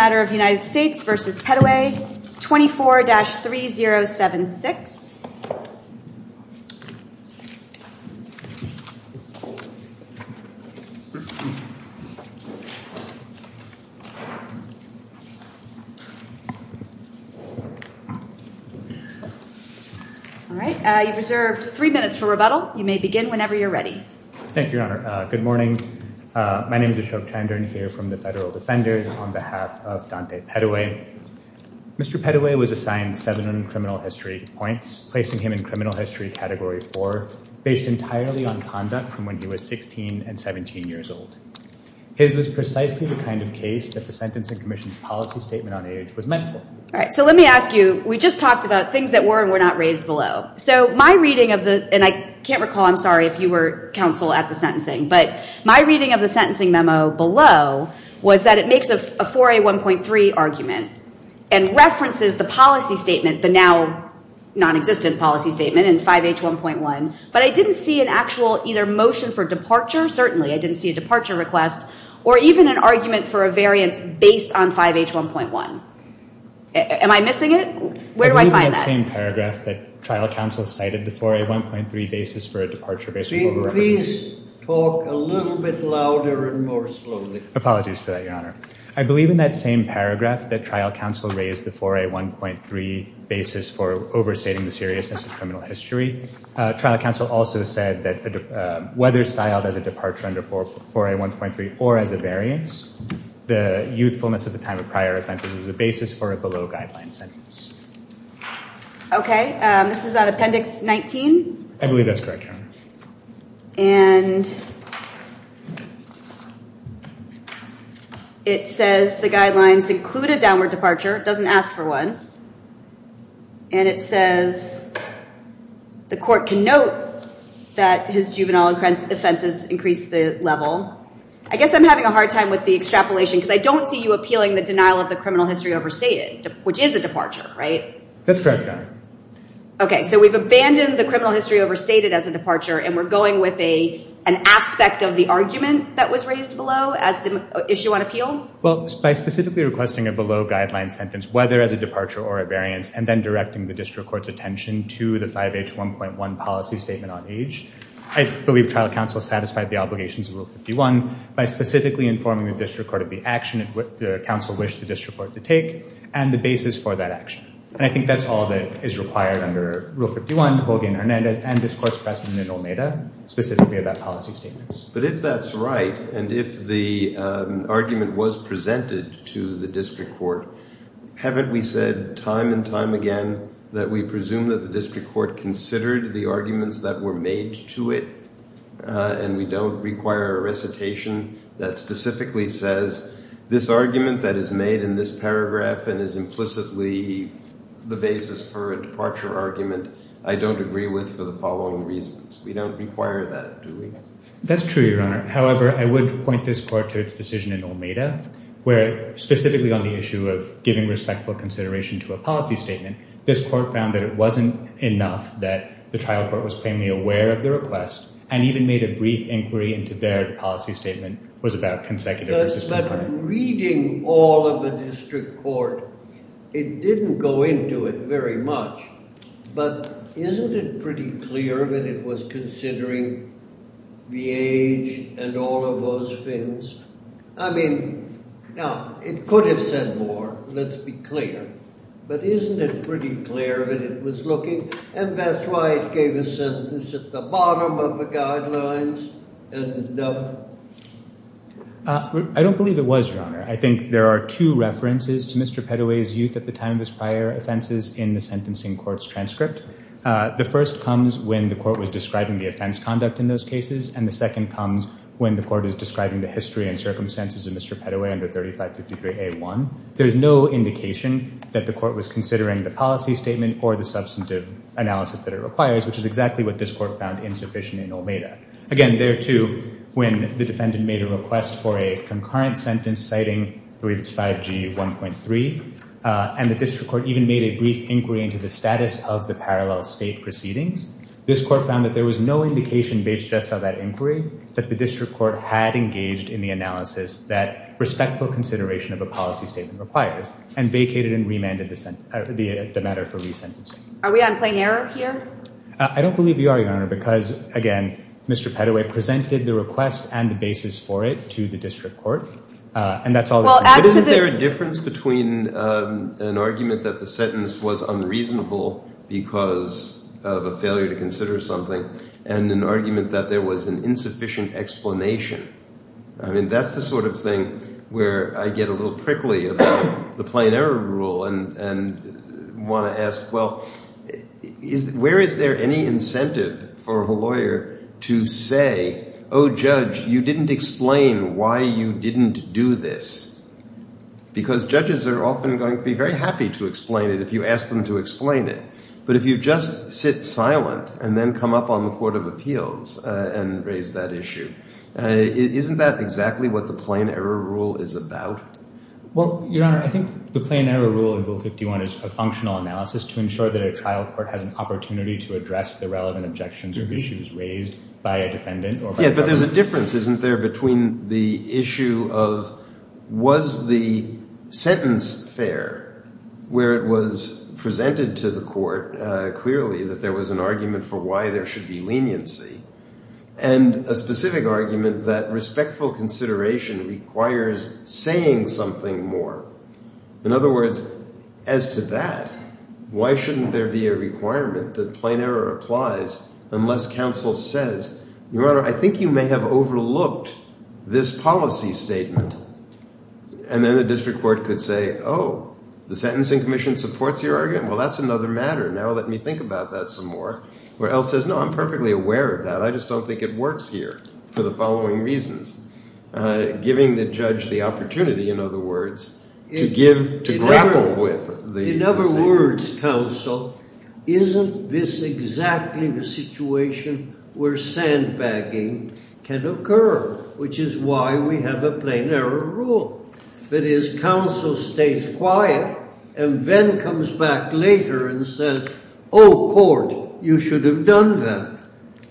24-3076. You have three minutes for rebuttal. You may begin whenever you are ready. Thank you, Your Honor. Good morning. My name is Ashok Chandran here from the Federal Defenders on behalf of Dante Petteway. Mr. Petteway was assigned seven criminal history points, placing him in criminal history category four, based entirely on conduct from when he was 16 and 17 years old. His was precisely the kind of case that the Sentencing Commission's policy statement on age was meant for. All right, so let me ask you, we just talked about things that were and were not raised below. So my reading of the, and I can't recall, I'm sorry if you were counsel at the sentencing, but my reading of the sentencing memo below was that it makes a 4A1.3 argument and references the policy statement, the now non-existent policy statement in 5H1.1, but I didn't see an actual either motion for departure, certainly I didn't see a departure request, or even an argument for a variance based on 5H1.1. Am I missing it? Where do I find that? I believe in that same paragraph that trial counsel cited the 4A1.3 basis for a departure Please talk a little bit louder and more slowly. Apologies for that, Your Honor. I believe in that same paragraph that trial counsel raised the 4A1.3 basis for overstating the seriousness of criminal history. Trial counsel also said that whether styled as a departure under 4A1.3 or as a variance, the youthfulness at the time of prior offenses was the basis for a below guideline sentence. Okay, this is on Appendix 19? I believe that's correct, Your Honor. And it says the guidelines include a downward departure, it doesn't ask for one, and it says the court can note that his juvenile offenses increased the level. I guess I'm having a hard time with the extrapolation because I don't see you appealing the denial of the criminal history overstated, which is a departure, right? That's correct, Your Honor. Okay, so we've abandoned the criminal history overstated as a departure and we're going with an aspect of the argument that was raised below as the issue on appeal? Well, by specifically requesting a below guideline sentence, whether as a departure or a variance, and then directing the district court's attention to the 5H1.1 policy statement on age, I believe trial counsel satisfied the obligations of Rule 51 by specifically informing the district court of the action that the counsel wished the district court to take and the basis for that action. And I think that's all that is required under Rule 51, Hogan, Hernandez, and this court's precedent in OMEDA, specifically about policy statements. But if that's right and if the argument was presented to the district court, haven't we said time and time again that we presume that the district court considered the arguments that were made to it and we don't require a recitation that specifically says this argument that is made in this paragraph and is implicitly the basis for a departure argument, I don't agree with for the following reasons? We don't require that, do we? That's true, Your Honor. However, I would point this court to its decision in OMEDA, where specifically on the issue of giving respectful consideration to a policy statement, this court found that it wasn't enough that the trial court was plainly aware of the request and even made a brief inquiry into their policy statement was about consecutive resistance. But reading all of the district court, it didn't go into it very much, but isn't it pretty clear that it was considering the age and all of those things? I mean, now it could have said more, let's be clear, but isn't it pretty clear that it was looking and that's why it gave a sentence at the bottom of the guidelines? I don't believe it was, Your Honor. I think there are two references to Mr. Pettoway's youth at the time of his prior offenses in the sentencing court's transcript. The first comes when the court was describing the offense conduct in those cases and the second comes when the court is describing the history and circumstances of Mr. Pettoway under 3553A1. There's no indication that the court was considering the policy statement or substantive analysis that it requires, which is exactly what this court found insufficient in Olmeda. Again, there too, when the defendant made a request for a concurrent sentence citing, I believe it's 5G1.3, and the district court even made a brief inquiry into the status of the parallel state proceedings, this court found that there was no indication based just on that inquiry that the district court had engaged in the analysis that respectful consideration of a policy statement requires and vacated and remanded the matter for resentencing. Are we on plain error here? I don't believe you are, Your Honor, because again, Mr. Pettoway presented the request and the basis for it to the district court and that's all. Isn't there a difference between an argument that the sentence was unreasonable because of a failure to consider something and an argument that there was an insufficient explanation? I mean, that's the sort of thing where I get a little prickly about the plain error rule and want to ask, well, where is there any incentive for a lawyer to say, oh, judge, you didn't explain why you didn't do this? Because judges are often going to be very happy to explain it if you ask them to explain it. But if you just sit silent and come up on the court of appeals and raise that issue, isn't that exactly what the plain error rule is about? Well, Your Honor, I think the plain error rule in Bill 51 is a functional analysis to ensure that a trial court has an opportunity to address the relevant objections or issues raised by a defendant. Yeah, but there's a difference, isn't there, between the issue of was the sentence fair, where it was presented to the court clearly that there was an argument for why there should be leniency and a specific argument that respectful consideration requires saying something more. In other words, as to that, why shouldn't there be a requirement that plain error applies unless counsel says, Your Honor, I think you may have overlooked this policy statement. And then the district court could say, oh, the sentencing commission supports your argument? Well, that's another matter. Now let me think about that some more. Or else says, no, I'm perfectly aware of that. I just don't think it works here for the following reasons. Giving the judge the opportunity, in other words, to give, to grapple with the... In other words, counsel, isn't this exactly the situation where sandbagging can occur, which is why we have a plain error rule. That is, counsel stays quiet and then comes back later and says, oh, court, you should have done that.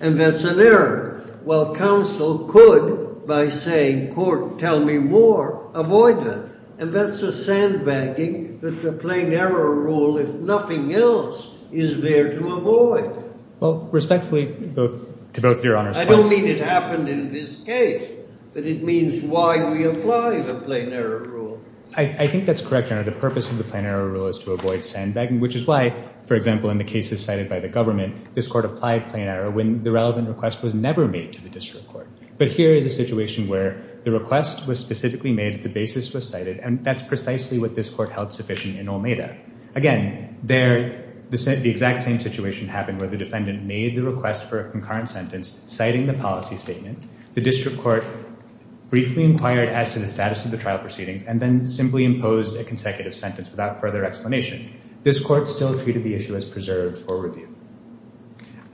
And that's an error. Well, counsel could, by saying, court, tell me more, avoid that. And that's a sandbagging that the plain error rule, if nothing else, is there to avoid. Well, respectfully, to both your honors... I don't mean it happened in this case, but it means why we apply the plain error rule. I think that's correct, Your Honor. The purpose of the plain error rule is to avoid sandbagging, which is why, for example, in the cases cited by the government, this court applied plain error when the relevant request was never made to the district court. But here is a situation where the request was specifically made, the basis was cited, and that's precisely what this court held sufficient in Olmeda. Again, there, the exact same situation happened where the defendant made the request for a concurrent sentence, citing the policy statement. The district court briefly inquired as to the status of the trial proceedings and then simply imposed a consecutive sentence without further explanation. This court still treated the issue as preserved for review.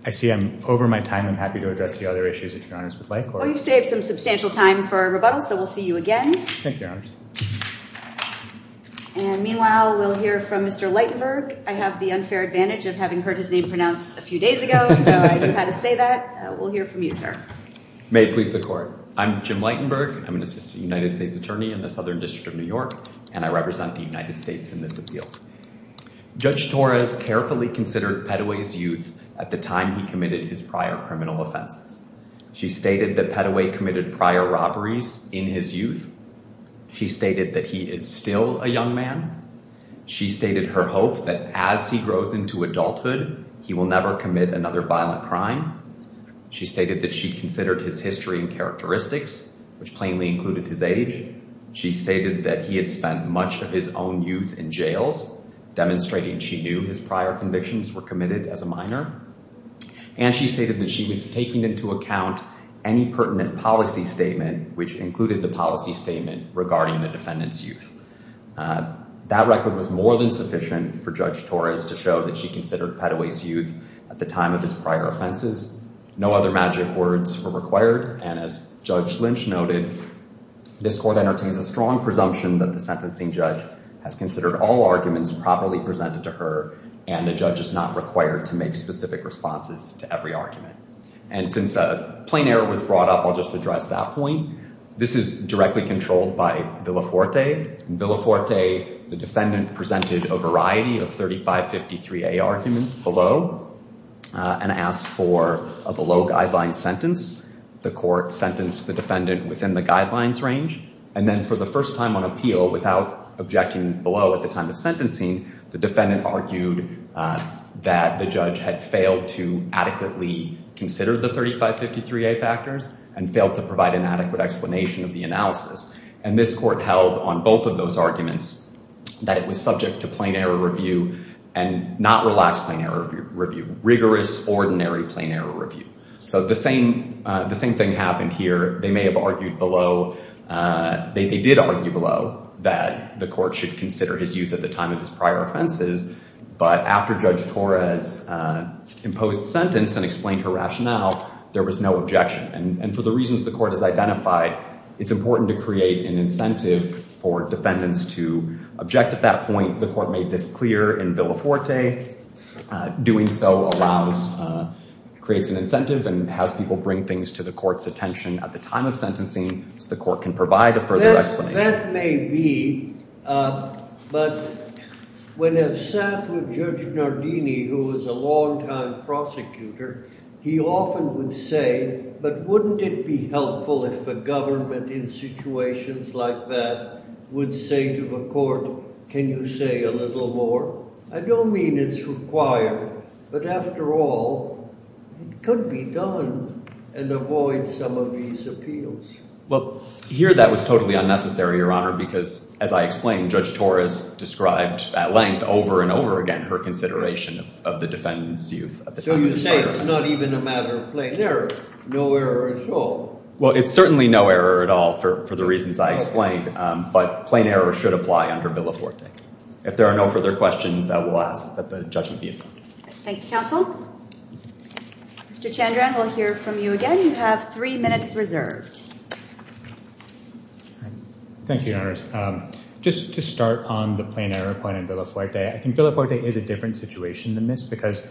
I see I'm over my time. I'm happy to address the other issues, if your honors would like. Well, you've saved some substantial time for rebuttal, so we'll see you again. Thank you, your honors. And meanwhile, we'll hear from Mr. Lightenberg. I have the unfair advantage of having heard his name pronounced a few days ago, so I knew how to say that. We'll hear from you, sir. May it please the court. I'm Jim Lightenberg. I'm an assistant United States attorney in the Southern District of New York, and I represent the United States in this appeal. Judge Torres carefully considered Padaway's youth at the time he committed his prior criminal offenses. She stated that Padaway committed prior robberies in his youth. She stated that he is still a young man. She stated her hope that as he grows into adulthood, he will never commit another violent crime. She stated that she considered his history and characteristics, which plainly included his age. She stated that he had spent much of his own youth in jails, demonstrating she knew his convictions were committed as a minor. And she stated that she was taking into account any pertinent policy statement, which included the policy statement regarding the defendant's youth. That record was more than sufficient for Judge Torres to show that she considered Padaway's youth at the time of his prior offenses. No other magic words were required, and as Judge Lynch noted, this court entertains a strong presumption that the sentencing judge has considered all arguments properly presented to her, and the judge is not required to make specific responses to every argument. And since a plain error was brought up, I'll just address that point. This is directly controlled by Villaforte. In Villaforte, the defendant presented a variety of 3553A arguments below, and asked for a below-guideline sentence. The court sentenced the defendant within the guidelines range, and then for the first time on appeal, without objecting below at the time of sentencing, the defendant argued that the judge had failed to adequately consider the 3553A factors, and failed to provide an adequate explanation of the analysis. And this court held on both of those arguments that it was subject to plain error review, and not relaxed plain error review. Rigorous, ordinary plain error review. So the same thing happened here. They may have argued below. They did argue below that the court should consider his use at the time of his prior offenses, but after Judge Torres imposed sentence, and explained her rationale, there was no objection. And for the reasons the court has identified, it's important to create an incentive for defendants to object at that point. The court made this clear in Villaforte. Doing so allows, creates an incentive, and has people bring things to the court's attention at the time of sentencing, so the court can provide a further explanation. That may be, but when I've sat with Judge Nardini, who was a long time prosecutor, he often would say, but wouldn't it be helpful if the government in situations like that would say to the court, can you say a little more? I don't mean it's required, but after all, it could be done, and avoid some of these appeals. Well, here that was totally unnecessary, Your Honor, because as I explained, Judge Torres described at length, over and over again, her consideration of the defendant's use at the time of his prior offenses. So you say it's not even a matter of plain error? No error at all? Well, it's certainly no error at all for the reasons I explained, but plain error should apply under Villaforte. If there are no further questions, I will ask that the judgment be adjourned. Thank you, counsel. Mr. Chandran, we'll hear from you again. You have three minutes reserved. Thank you, Your Honors. Just to start on the plain error point in Villaforte, I think Villaforte is a different situation than this, because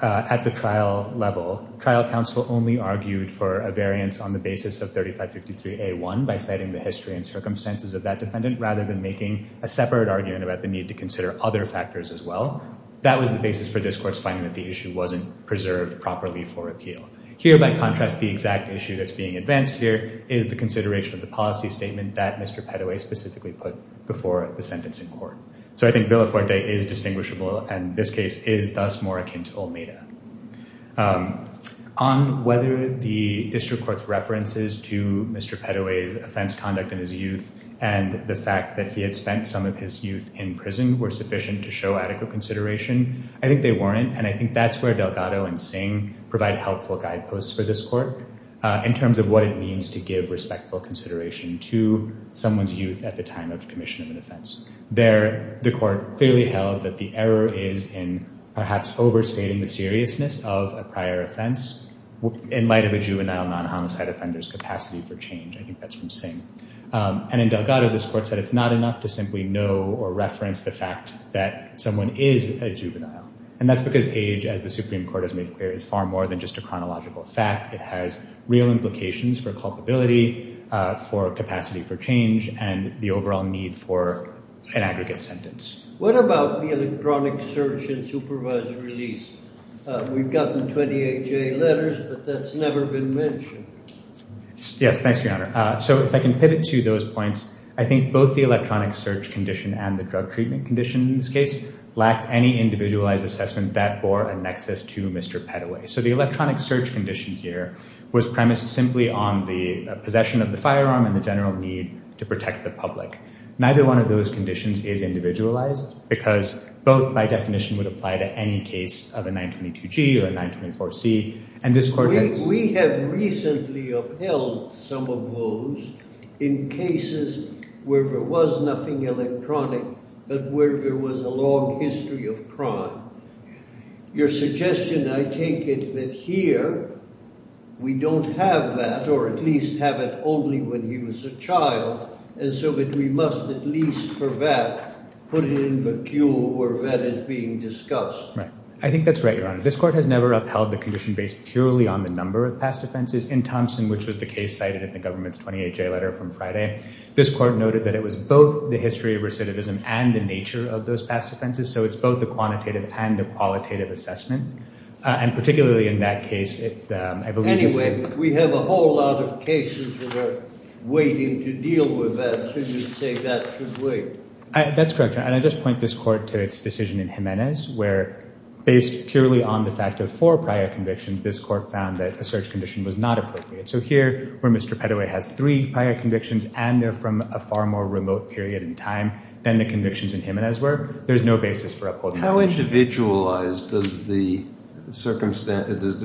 at the trial level, trial counsel only argued for a variance on the basis of 3553A1 by citing the history and circumstances of that defendant, rather than making a separate argument about the need to consider other factors as well. That was the basis for this court's finding that the issue wasn't preserved properly for appeal. Here, by contrast, the exact issue that's being advanced here is the consideration of the policy statement that Mr. Pettoway specifically put before the sentence in court. So I think Villaforte is distinguishable, and this case is thus more akin to Olmeda. On whether the district court's references to Mr. Pettoway's offense conduct in his youth and the fact that he had spent some of his youth in prison were sufficient to show adequate consideration, I think they weren't, and I think that's where Delgado and Singh provide helpful guideposts for this court in terms of what it means to give respectful consideration to someone's youth at the time of commission of an offense. There, the court clearly held that the error is in perhaps overstating the seriousness of a prior offense in light of a juvenile non-homicide offender's capacity for change. I think that's from Singh. And in Delgado, this court said it's not enough to simply know or reference the fact that someone is a juvenile, and that's because age, as the Supreme Court has made clear, is far more than just a chronological fact. It has real implications for culpability, for capacity for change, and the overall need for an aggregate sentence. What about the electronic search and supervisor release? We've gotten 28J letters, but that's never been mentioned. Yes, thanks, Your Honor. So if I can pivot to those points, I think both the electronic search condition and the drug treatment condition in this case lacked any individualized assessment that bore a nexus to Mr. Peddoway. So the electronic search condition here was premised simply on the possession of the firearm and the general need to protect the public. Neither one of those conditions is individualized because both, by definition, would apply to any case of a 922G or a 924C, and this court has... We have recently upheld some of those in cases where there was nothing electronic, but where there was a long history of crime. Your suggestion, I take it, that here we don't have that, or at least have it only when he was a child, and so that we must at least, for that, put it in the queue where that is being discussed. Right. I think that's right, Your Honor. This court has never upheld the condition based purely on the number of past offenses. In Thompson, which was the case cited in the government's 28-J letter from Friday, this court noted that it was both the history of recidivism and the nature of those past offenses, so it's both a quantitative and a qualitative assessment, and particularly in that case, I believe... Anyway, we have a whole lot of cases that are waiting to deal with that, so you say that should wait. That's correct, Your Honor, and I just point this court to its decision in Jimenez where, based purely on the fact of four prior convictions, this court found that a search condition was not appropriate. So here, where Mr. Pettoway has three prior convictions, and they're from a far more remote period in time than the convictions in Jimenez were, there's no basis for upholding the condition. How individualized does the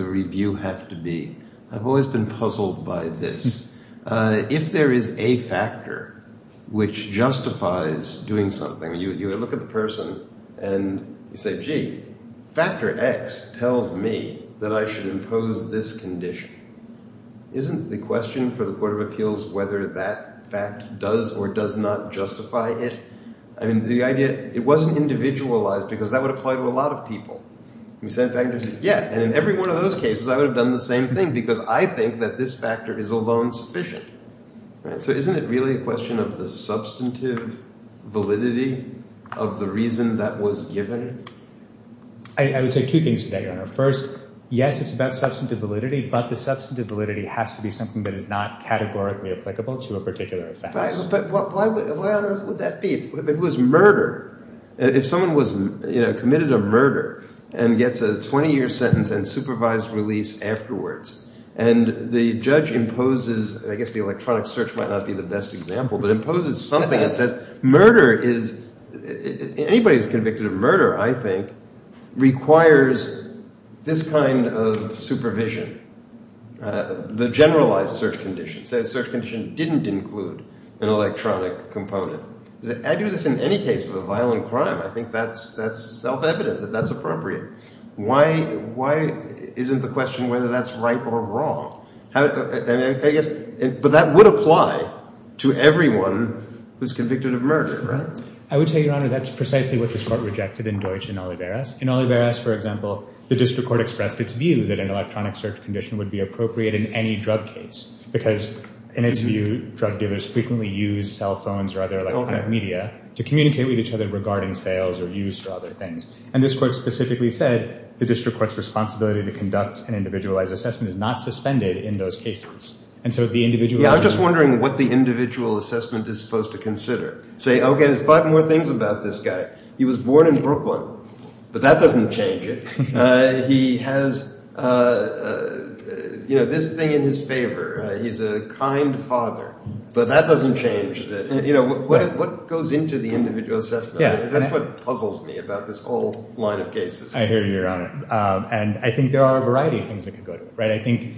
review have to be? I've always been puzzled by this. If there is a factor which justifies doing something, you look at the person and you say, gee, factor X tells me that I should impose this condition. Isn't the question for the Court of Appeals whether that fact does or does not justify it? I mean, the idea... It wasn't individualized because that would apply to a lot of people. You said, in fact, yeah, and in every one of those cases, I would have done the same thing because I think that this factor is alone sufficient. So isn't it really a question of the substantive validity of the reason that was given? I would say two things today, Your Honor. First, yes, it's about substantive validity, but the substantive validity has to be something that is not categorically applicable to a particular offense. But why on earth would that be? If it was murder, if someone was, you know, committed a murder and gets a 20-year sentence and supervised release afterwards, and the judge imposes, I guess the electronic search might not be the best example, but imposes something that says murder is... Anybody who's convicted of murder, I think, requires this kind of supervision, the generalized search condition. Say the search condition didn't include an electronic component. I do this in any case of a violent crime. I think that's self-evident that that's appropriate. Why isn't the question whether that's right or wrong? But that would apply to everyone who's convicted of murder, right? I would tell you, Your Honor, that's precisely what this Court rejected in Deutsch and Oliveras. In Oliveras, for example, the district court expressed its view that an electronic search condition would be appropriate in any drug case because, in its view, drug dealers frequently use cell phones or other media to communicate with each other regarding sales or use for other things. And this Court specifically said the district court's responsibility to conduct an individualized assessment is not suspended in those cases. And so the individual... Yeah, I'm just wondering what the individual assessment is supposed to consider. Say, okay, there's five more things about this guy. He was born in Brooklyn, but that doesn't change it. He has, you know, this thing in his favor. He's a kind father, but that doesn't change it. You know, what goes into the individual assessment? That's what puzzles me about this whole line of cases. I hear you, Your Honor. And I think there are a variety of things that could go to it, right? I think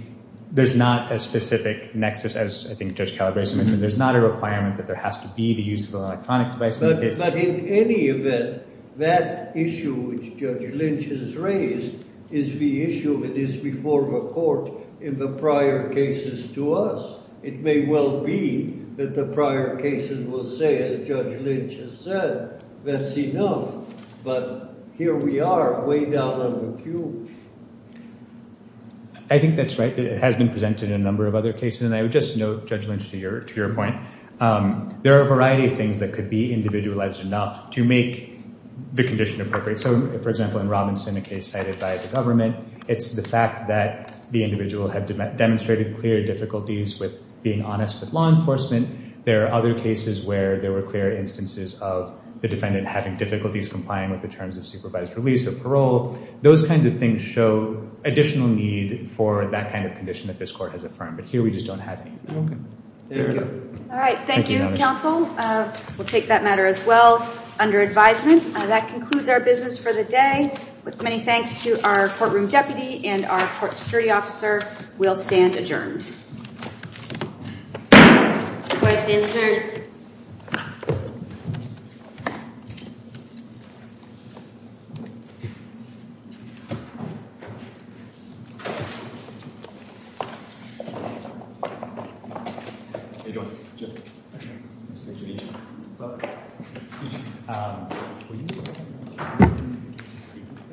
there's not a specific nexus, as I think Judge Calabresi mentioned. There's not a requirement that there has to be the use of an electronic device in the case. But in any event, that issue, which Judge Lynch has raised, is the issue that is before the Court in the prior cases to us. It may well be that the prior cases will say, as Judge Lynch has said, that's enough. But here we are way down on the queue. I think that's right. It has been presented in a number of other cases. And I would just note, Judge Lynch, to your point, there are a variety of things that could be individualized enough to make the condition appropriate. So, for example, in Robinson, a case cited by the government, it's the fact that the individual had demonstrated clear difficulties with being honest with law enforcement. There are other cases where there were clear instances of the defendant having difficulties complying with the terms of supervised release or parole. Those kinds of things show additional need for that kind of condition that this Court has affirmed. But here we just don't have any. All right. Thank you, counsel. We'll take that as well under advisement. That concludes our business for the day. With many thanks to our courtroom deputy and our court security officer, we'll stand adjourned. Thank you.